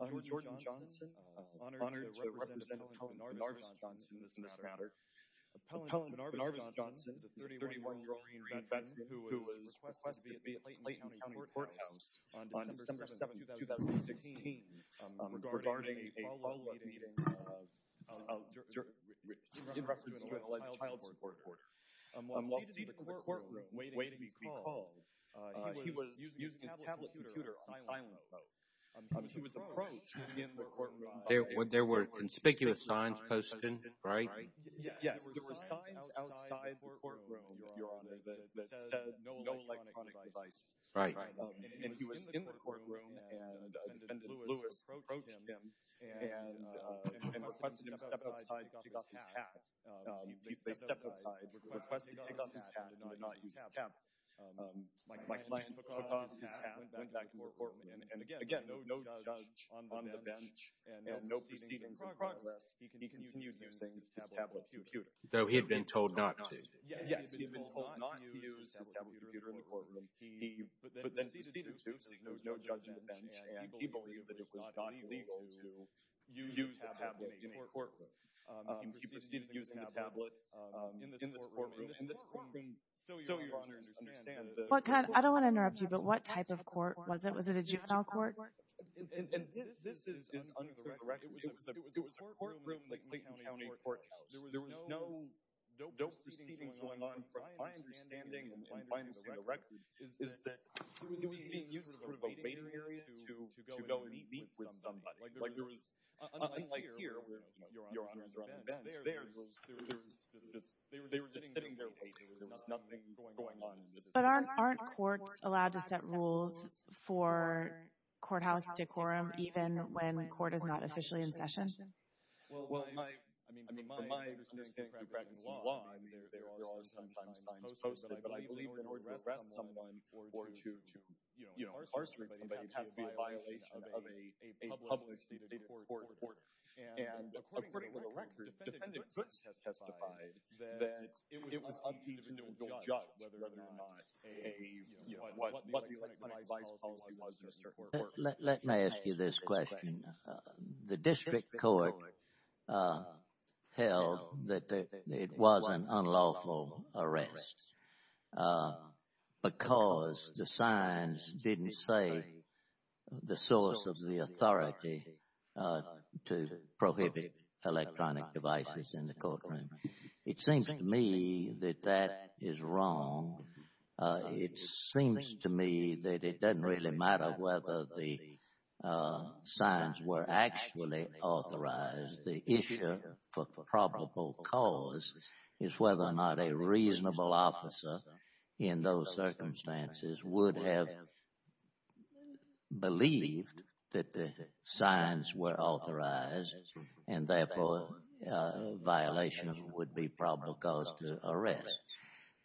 I'm Jordan Johnson, honored to represent Appellant Benarvis Johnson, 31-year-old Doreen Van Vetten, who was requested to be at Clayton County Courthouse on December 7, 2016, regarding a follow-up meeting in reference to an organized child support order. While seated in the courtroom, waiting to be called, he was using his tablet computer on silent mode. He was approached in the courtroom, and he was in the courtroom, and the defendant, Lewis, approached him and requested him to step outside to pick up his tab. He stepped outside, requested to pick up his tab, and did not use his tablet. My client took off his tab, went back to court, and again, no judge on the bench, and no proceedings in progress. He continued using his tablet computer. Though he had been told not to. Yes, he had been told not to use his tablet computer in the courtroom. He then proceeded to use it, no judge on the bench, and he believed that it was not illegal to use a tablet in a courtroom. He proceeded to use the tablet in this courtroom. In this courtroom, so your Honor's understand, the- I don't want to interrupt you, but what type of court was it? Was it a juvenile court? And this is under the record. It was a courtroom in Clayton County Courthouse. There was no proceedings going on. My understanding, and my understanding of the record, is that he was being used as sort of a waiting area to go and meet with somebody. Unlike here, where your Honor is on the bench, there, they were just sitting there waiting. There was nothing going on. But aren't courts allowed to set rules for courthouse decorum, even when court is not officially in session? Well, I mean, from my understanding of the practice of the law, I mean, there are sometimes signs posted, but I believe in order to arrest someone or to, you know, incarcerate somebody, it has to be a violation of a publicly stated court order. And according to the record, defendant Goodson testified that it was up to the individual judge whether or not a, you know, what the legalized policy was in the court order. Let me ask you this question. The district court held that it was an unlawful arrest because the signs didn't say the source of the authority to prohibit electronic devices in the courtroom. It seems to me that that is wrong. It seems to me that it doesn't really matter whether the signs were actually authorized. The issue for probable cause is whether or not a reasonable officer in those circumstances would have believed that the signs were authorized, and therefore violations would be probable cause to arrest.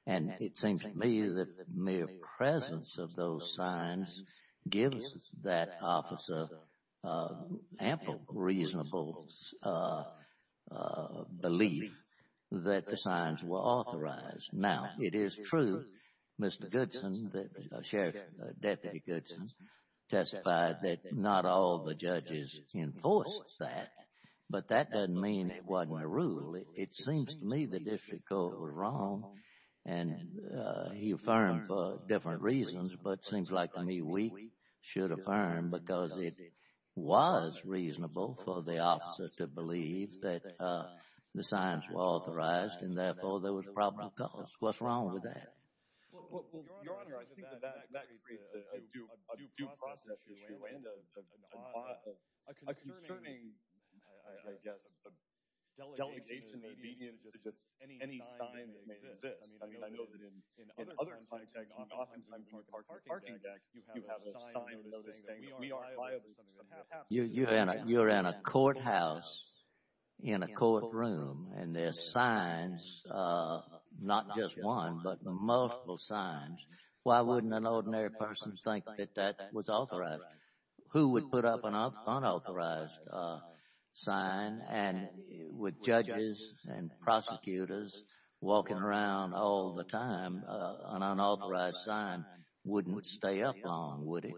And it seems to me that the mere presence of those signs gives that officer ample reasonable belief that the signs were authorized. Now, it is true, Mr. Goodson, Sheriff Deputy Goodson testified that not all the judges enforced that, but that doesn't mean it wasn't a rule. It seems to me the district court was wrong, and he affirmed for different reasons, but it seems like to me we should affirm because it was reasonable for the officer to believe that the signs were authorized, and therefore there was probable cause. What's wrong with that? Well, Your Honor, I think that that creates a due process issue and a concerning, I guess, delegation of obedience to just any sign that may exist. I mean, I know that in other times, like oftentimes toward parking, you have a sign that is saying that we are liable to something that happens. You're in a courthouse in a courtroom, and there's signs, not just one, but multiple signs. Why wouldn't an ordinary person think that that was authorized? Who would put up an unauthorized sign? And with judges and prosecutors walking around all the time, an unauthorized sign wouldn't stay up long, would it?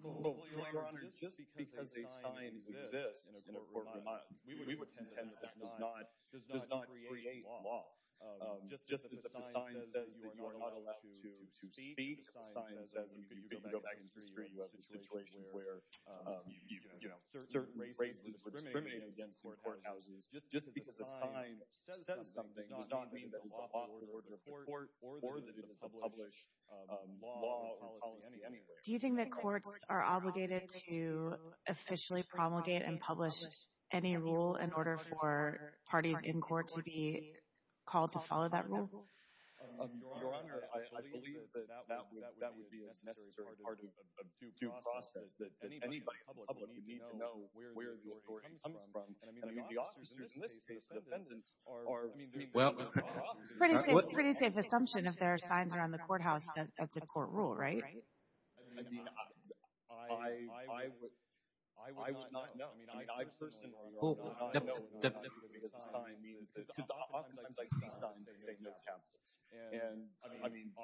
Well, Your Honor, just because a sign exists in a courtroom, we would contend that that does not create law. Just as if a sign says that you are not allowed to speak, if a sign says that you can go back and screen, you have a situation where certain races are discriminated against in courthouses. Just because a sign says something does not mean that it's off the order of the court or that it's a published law or policy anywhere. Do you think that courts are obligated to officially promulgate and publish any rule in order for parties in court to be called to follow that rule? Your Honor, I believe that that would be a necessary part of due process, that anybody in public would need to know where the authority comes from. And I mean, the officers in this case, the defendants, are doing their job. It's a pretty safe assumption if there are signs around the courthouse that that's a court rule, right? I mean, I would not know. I mean, I personally, Your Honor, I don't know what an unauthorized sign means. Because oftentimes I see signs that say no tablets.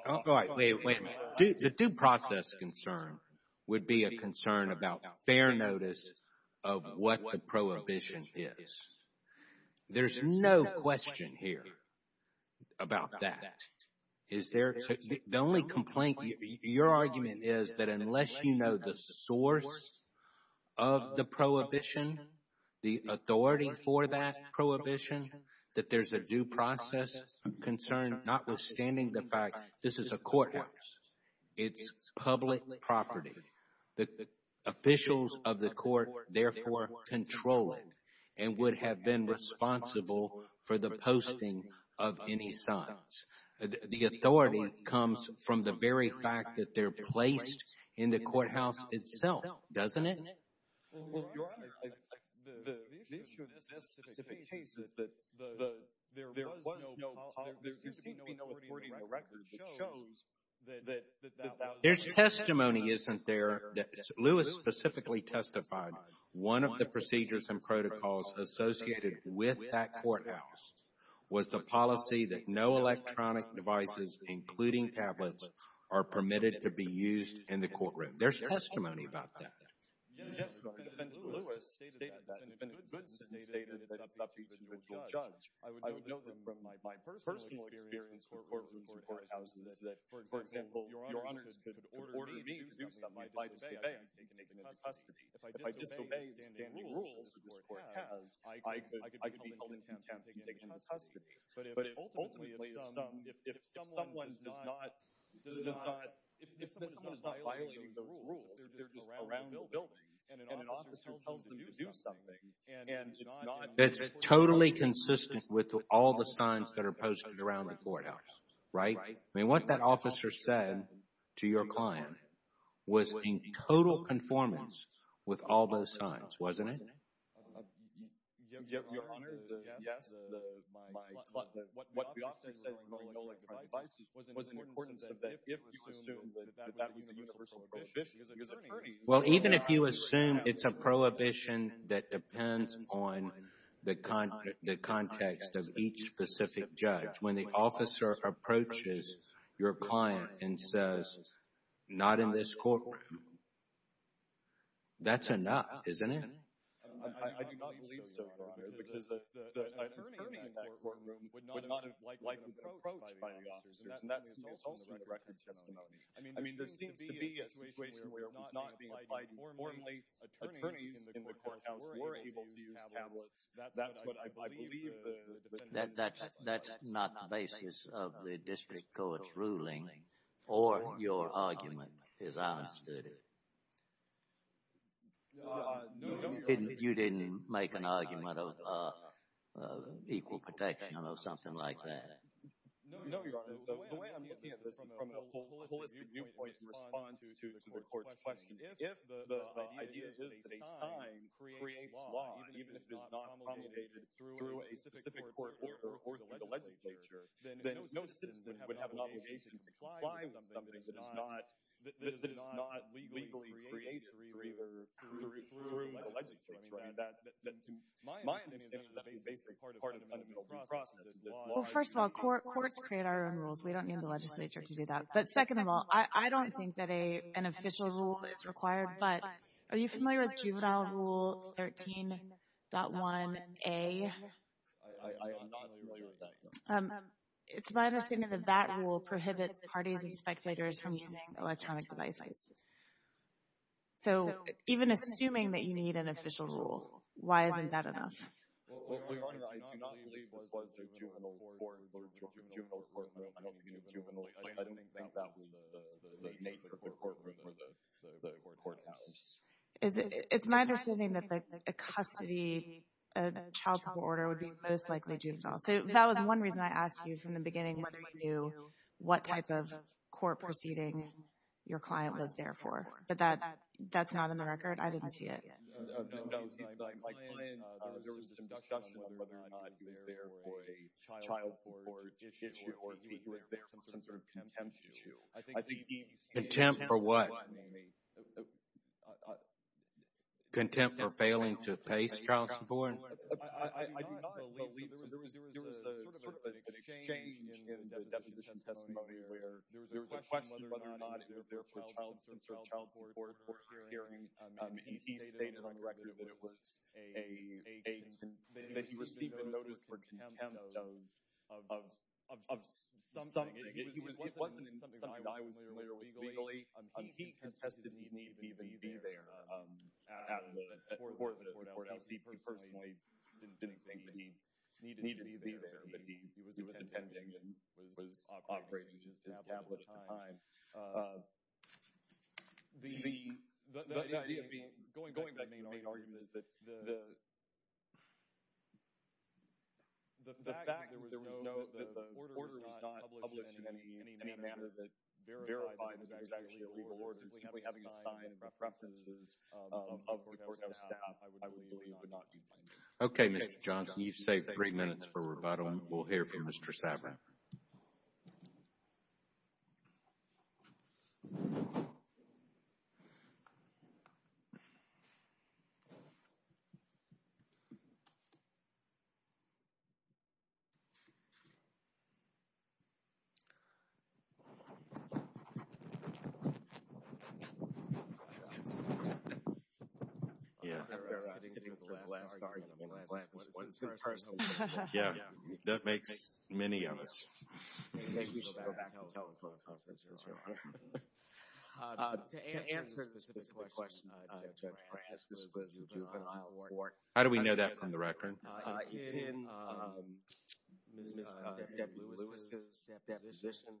All right, wait a minute. The due process concern would be a concern about fair notice of what the prohibition is. There's no question here about that. The only complaint, your argument is that unless you know the source of the prohibition, the authority for that prohibition, that there's a due process concern, notwithstanding the fact this is a courthouse, it's public property. The officials of the court therefore control it and would have been responsible for the posting of any signs. The authority comes from the very fact that they're placed in the courthouse itself, doesn't it? Well, Your Honor, the issue in this specific case is that there was no policy. There seems to be no authority in the record that shows that that was the case. There's testimony, isn't there, that Lewis specifically testified one of the procedures and protocols associated with that courthouse was the policy that no electronic devices, including tablets, are permitted to be used in the courtroom. There's testimony about that. Yes, Your Honor, defendant Lewis stated that. Defendant Goodson stated that it's up to each individual judge. I would know that from my personal experience with courtrooms or courthouses that, for example, Your Honors could order me to do something. If I disobey, I could be taken into custody. If I disobey the standing rules that this court has, I could be held in contempt and taken into custody. But ultimately, if someone is not violating those rules, if they're just around the building, and an officer tells them to do something, and it's not in the court order, It's totally consistent with all the signs that are posted around the courthouse, right? I mean, what that officer said to your client was in total conformance with all those signs, wasn't it? Your Honor, yes. What the officer said regarding no electronic devices was in accordance with that. If you assume that that was a universal prohibition, his attorney— Well, even if you assume it's a prohibition that depends on the context of each specific judge, when the officer approaches your client and says, Not in this courtroom. That's enough, isn't it? I do not believe so, Your Honor, because the attorney in that courtroom would not have likely been approached by the officers. And that's also a direct testimony. I mean, there seems to be a situation where it was not being applied informally. Attorneys in the courthouse were able to use tablets. That's what I believe the defendant— That's not the basis of the district court's ruling or your argument, as I understood it. You didn't make an argument of equal protection or something like that? No, Your Honor. The way I'm looking at this is from a holistic viewpoint in response to the court's question. If the idea is that a sign creates law, even if it's not promulgated through a specific court order or the legislature, then no citizen would have an obligation to comply with something that is not legally created through the legislature. I mean, my understanding is that's a basic part of the fundamental process. Well, first of all, courts create our own rules. We don't need the legislature to do that. But second of all, I don't think that an official rule is required. But are you familiar with juvenile rule 13.1a? I am not familiar with that, no. It's my understanding that that rule prohibits parties and speculators from using electronic devices. So even assuming that you need an official rule, why isn't that enough? Well, Your Honor, I do not believe this was a juvenile court or a juvenile courtroom. I don't think that was the nature of the courtroom or the courthouse. It's my understanding that a custody, a child support order would be most likely juvenile. So that was one reason I asked you from the beginning whether you knew what type of court proceeding your client was there for. But that's not in the record. I didn't see it. No, my client, there was some discussion of whether or not he was there for a child support issue or if he was there for some sort of contempt issue. Contempt for what? Contempt for failing to face child support? I do not believe so. There was sort of an exchange in the deposition testimony where there was a question of whether or not he was there for child support and he stated on the record that he received a notice for contempt of something. It wasn't in something that I was familiar with legally. He contested his need to be there at the courthouse. He personally didn't think that he needed to be there, but he was intending and was operating his tablet at the time. The idea of going back to the main argument is that the fact that the order was not published in any manner that verified that it was actually a legal order, simply having a sign with references of the courthouse staff, I would believe would not be blameworthy. Okay, Mr. Johnson, you've saved three minutes for rebuttal. We'll hear from Mr. Saverin. Thank you. Yeah, that makes many of us. To answer the specific question, Judge Brant, this was a juvenile court. How do we know that from the record? It's in Ms. Deb Lewis' deposition.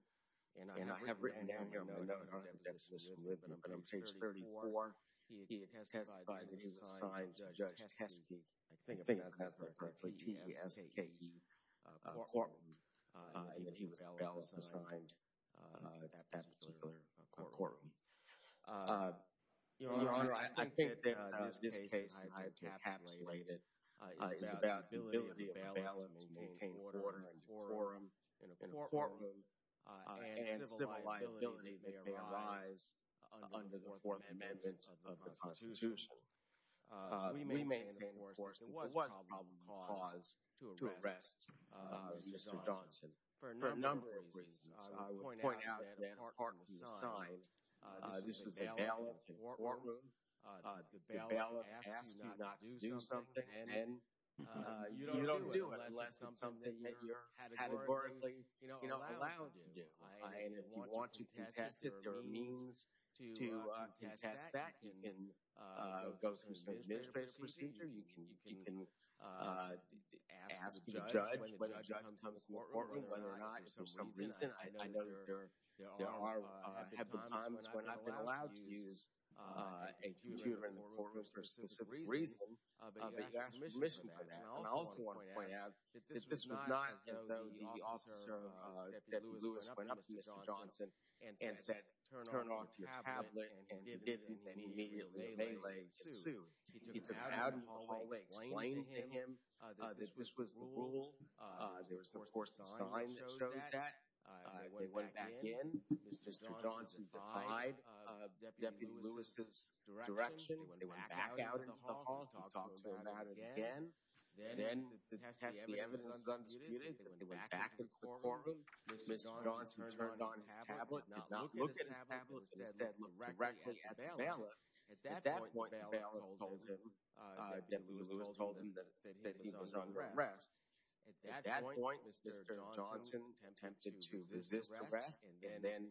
And I have written down here my note on Deb Lewis' deposition with the number on page 34. He testified that he was assigned to Judge Teske. I think I've pronounced that correctly. T-S-K-E, courtroom. And that he was a bailiff assigned at that particular courtroom. Your Honor, I think that this case, and I've encapsulated it, is about the ability of a bailiff to maintain order in a courtroom, and civil liability that may arise under the Fourth Amendment of the Constitution. We maintain, of course, that there was a probable cause to arrest Mr. Johnson for a number of reasons. I would point out that a pardon was signed. This was a bailiff in a courtroom. The bailiff asked you not to do something, and you don't do it unless it's something that you're categorically, you know, allowed to do. And if you want to contest it, there are means to contest that. You can go through some administrative procedure. You can ask the judge when the judge becomes more important, whether or not for some reason. I know there are times when I've been allowed to use a computer in the courtroom for a specific reason, but you've asked permission for that. And I also want to point out that this was not as though the officer, Deputy Lewis, went up to Mr. Johnson and said, turn off your tablet, and he didn't. And he immediately, in a melee, sued. He took it out of the hall and explained to him that this was the rule. There was, of course, a sign that shows that. They went back in. Mr. Johnson defied Deputy Lewis's direction. They went back out into the hall, talked to him about it again. Then the evidence was disputed. They went back into the courtroom. Mr. Johnson turned on his tablet, did not look at his tablet, but instead looked directly at the bailiff. At that point, the bailiff told him, Deputy Lewis told him that he was under arrest. At that point, Mr. Johnson attempted to resist arrest and then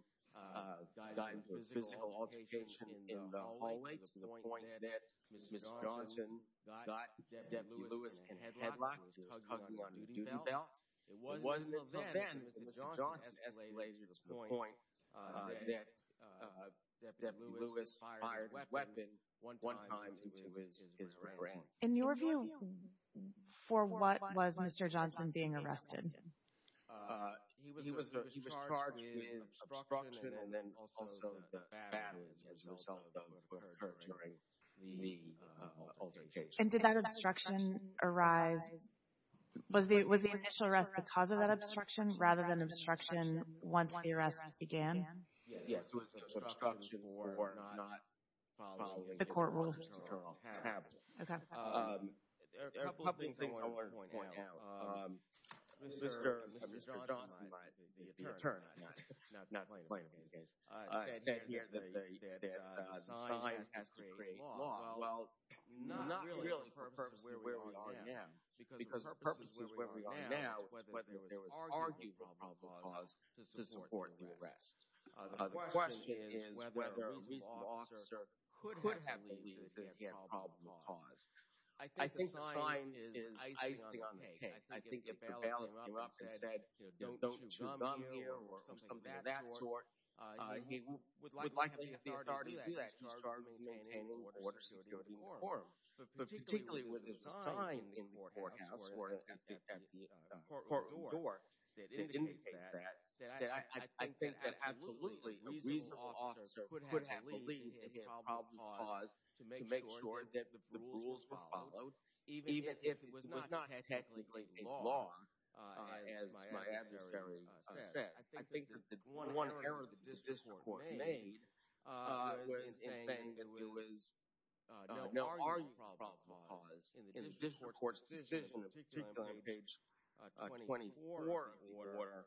got into a physical altercation in the hallway to the point that Mr. Johnson got Deputy Lewis and headlocked, hugged him on a duty belt. It wasn't until then that Mr. Johnson escalated to the point that Deputy Lewis fired a weapon one time into his brain. In your view, for what was Mr. Johnson being arrested? He was charged with obstruction and then also the fact that some of those occurred during the altercation. And did that obstruction arise—was the initial arrest the cause of that obstruction rather than obstruction once the arrest began? Yes, it was obstruction for not following the court rules. There are a couple of things I want to point out. Mr. Johnson, the attorney, said here that science has to create law. Well, not really the purpose of where we are now, because the purpose of where we are now is whether there was arguable probable cause to support the arrest. The question is whether a reasonable officer could have believed that he had probable cause. I think the sign is icing on the cake. I think if the bailiff came up and said, don't chew gum here or something of that sort, he would likely have the authority to do that. He's charged with maintaining order, security, and conform. But particularly with the sign in the courthouse or at the court door that indicates that, I think that absolutely a reasonable officer could have believed he had probable cause to make sure that the rules were followed, even if it was not technically a law, as my adversary said. I think that the one error that the Dishonor Court made in saying that there was no arguable probable cause in the Dishonor Court's decision, particularly on page 24 of the order,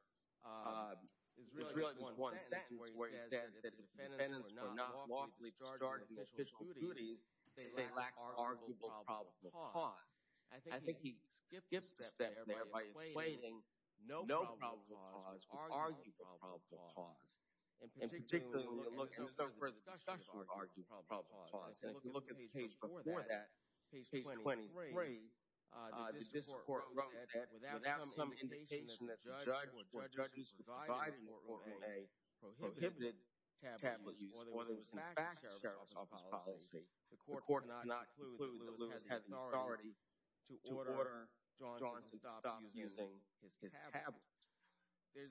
is really just one sentence where he says that if defendants were not lawfully charged with official duties, they lacked arguable probable cause. I think he skips a step there by explaining no probable cause or arguable probable cause. And particularly when you look at the discussion of arguable probable cause, and if you look at the page before that, page 23, the Dishonor Court wrote that without some indication that the judge or judges provided or made prohibited tabloid use or that it was in fact sheriff's office policy, the court did not conclude that Lewis had the authority to order Johnson to stop using his tabloid.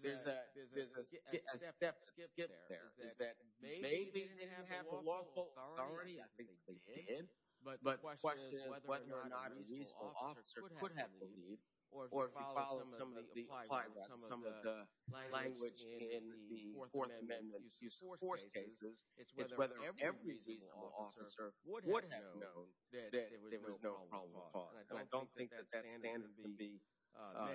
There's a step that skips there. It's that maybe they didn't have the lawful authority. I think they did. But the question is whether or not a reasonable officer could have believed, or if you follow some of the language in the Fourth Amendment use of force cases, it's whether every reasonable officer would have known that there was no probable cause. And I don't think that that stands to be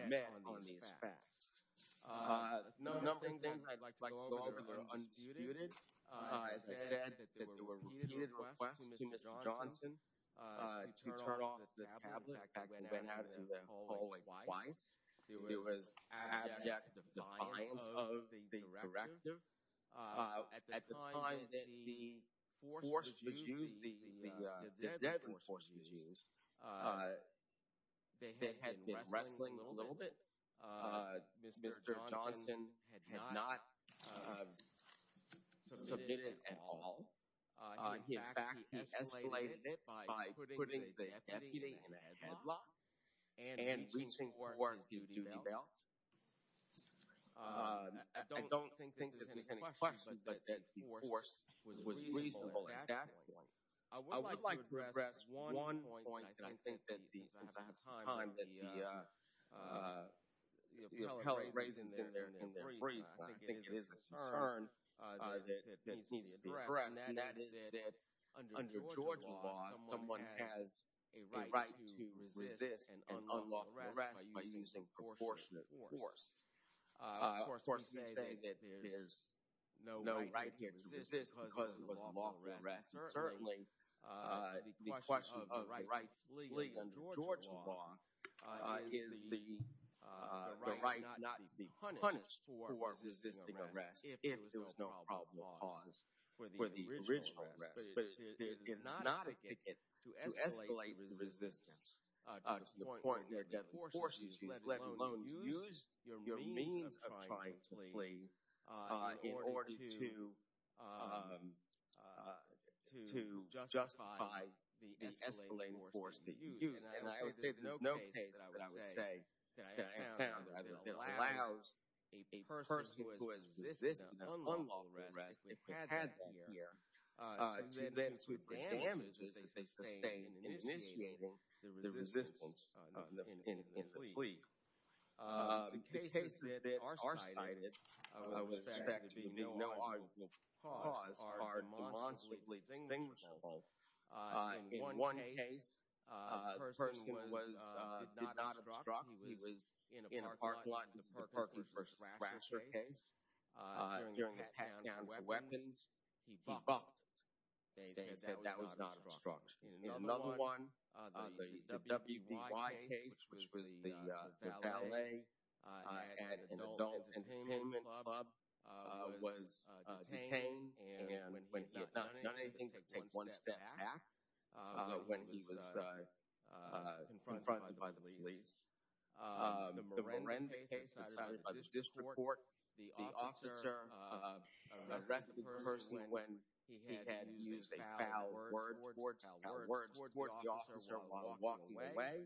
met on these facts. A number of things I'd like to go over that are undisputed. As I said, there were repeated requests to Mr. Johnson to turn off the tabloid that went out into the hallway twice. There was abject defiance of the directive. At the time that the force was used, the deadly force was used, they had been wrestling a little bit. Mr. Johnson had not submitted at all. In fact, he escalated it by putting the deputy in a headlock and reaching for his duty belt. I don't think there's any question that the force was reasonable at that point. I would like to address one point that I think that since I have some time that the appellate raises in their brief, and I think it is a concern that needs to be addressed, and that is that under Georgia law, someone has a right to resist an unlawful arrest by using proportionate force. Of course, we can't say that there's no right to resist because of an unlawful arrest. Certainly, the question of the right to flee under Georgia law is the right not to be punished for resisting arrest if there was no probable cause for the original arrest. But it is not a ticket to escalate resistance to the point where the force used, let alone use your means of trying to flee in order to justify the escalating force that you used. And I would say that there's no case that I would say that I have found that allows a person who has resisted an unlawful arrest, if they had that fear, to then submit damages that they sustained in initiating the resistance in the flee. The cases that are cited, I would expect to be no arguable cause, are demonstrably distinguishable. In one case, a person did not obstruct. He was in a parking lot in the Perkins v. Thrasher case. During the count of weapons, he bopped it. That was not obstructed. In another one, the W.B.Y. case, which was the valet at an adult entertainment club, was detained, and when he had done anything but take one step back when he was confronted by the police. The Morenda case was cited by the district court. The officer arrested the person when he had used a foul word towards the officer while walking away.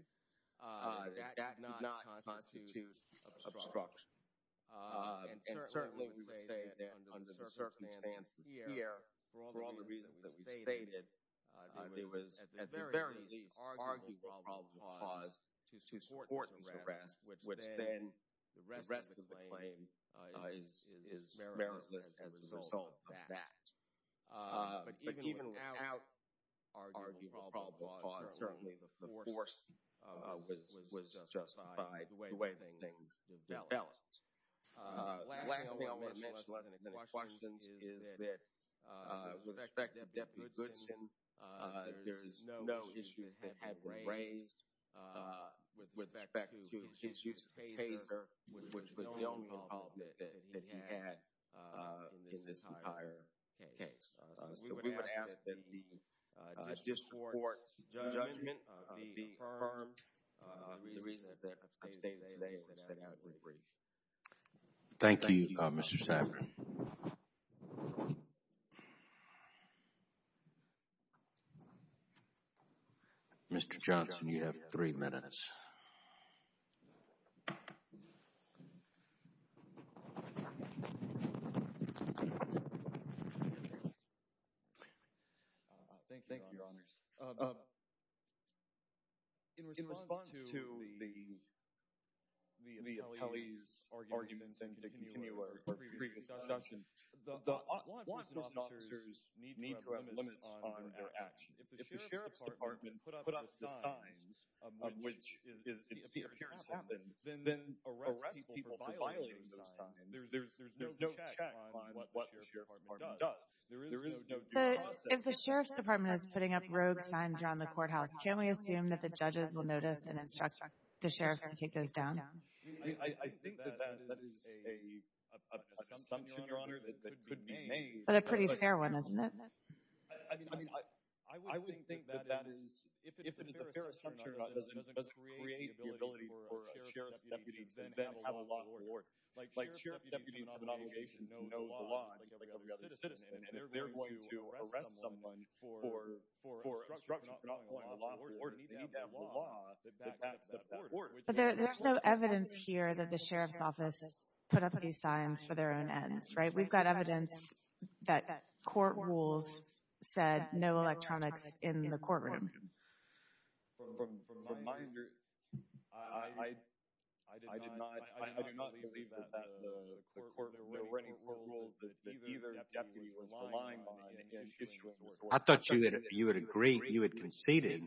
That did not constitute obstruction. Certainly, we would say that under the circumstances here, for all the reasons that we've stated, there was, at the very least, arguable probable cause to support this arrest, which then the rest of the claim is meritless as a result of that. But even without arguable probable cause, certainly the force was justified the way things were dealt. The last thing I want to mention, unless there are any questions, is that with respect to Deputy Goodson, there is no issues that have been raised with respect to his use of taser, which was the only involvement that he had in this entire case. So we would ask that the district court's judgment be affirmed. The reason that I'm stating today is that I would have it re-briefed. Thank you, Mr. Saverin. Mr. Johnson, you have three minutes. Thank you, Your Honors. In response to Kelly's arguments and to continue our previous discussion, the law enforcement officers need to have limits on their actions. If the sheriff's department put up the signs of which it appears happened, then arrest people for violating those signs. There's no check on what the sheriff's department does. There is no due process. If the sheriff's department is putting up rogue signs around the courthouse, can we assume that the judges will notice and instruct the sheriff to take those down? I think that that is an assumption, Your Honor, that could be made. But a pretty fair one, isn't it? I would think that if it is a fair assumption, it doesn't create the ability for a sheriff's deputy to then have a law court. Like, sheriff's deputies have an obligation to know the law just like every other citizen, and if they're going to arrest someone for obstruction of the law court, they need to have a law that backs that up. But there's no evidence here that the sheriff's office put up these signs for their own ends, right? We've got evidence that court rules said no electronics in the courtroom. I thought you had agreed, you had conceded,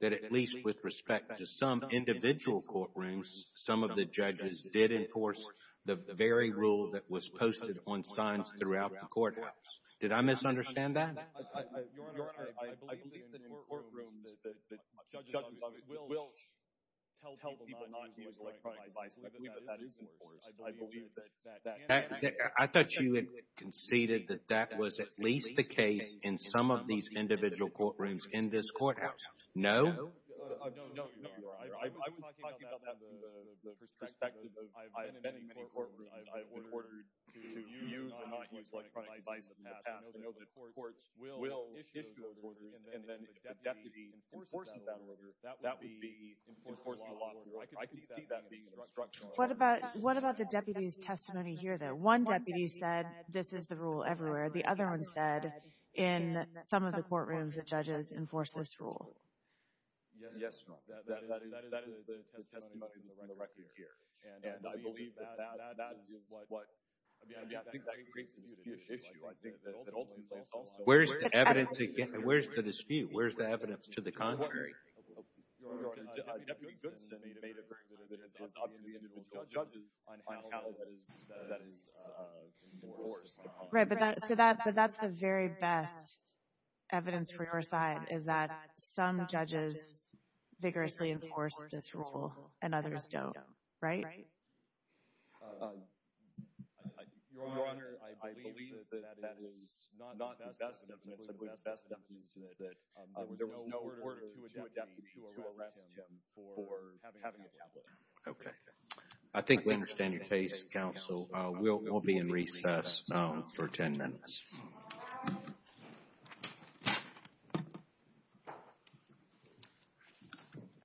that at least with respect to some individual courtrooms, some of the judges did enforce the very rule that was posted on signs throughout the courthouse. Did I misunderstand that? I thought you had conceded that that was at least the case in some of these individual courtrooms in this courthouse. No? I've been in many, many courtrooms. I've been ordered to use or not use electronic devices in the past. I know the courts will issue those orders, and then if a deputy enforces that order, that would be enforcing a law order. I could see that being a structural error. What about the deputy's testimony here, though? One deputy said, this is the rule everywhere. The other one said, in some of the courtrooms, the judges enforce this rule. Yes, Your Honor. That is the testimony that's on the record here. And I believe that that is what... I mean, I think that creates a disputed issue. I think that ultimately it's also... Where's the evidence to get... Where's the dispute? Where's the evidence to the contrary? Your Honor, Deputy Goodson made a very good evidence on some of the individual judges on how that is enforced. Right, but that's the very best evidence for your side is that some judges vigorously enforce this rule, and others don't. Right? Your Honor, I believe that that is not the best evidence. The best evidence is that there was no order to a deputy to arrest him for having a tablet. Okay. I think we understand your case, Counsel. We'll be in recess for 10 minutes. Thank you.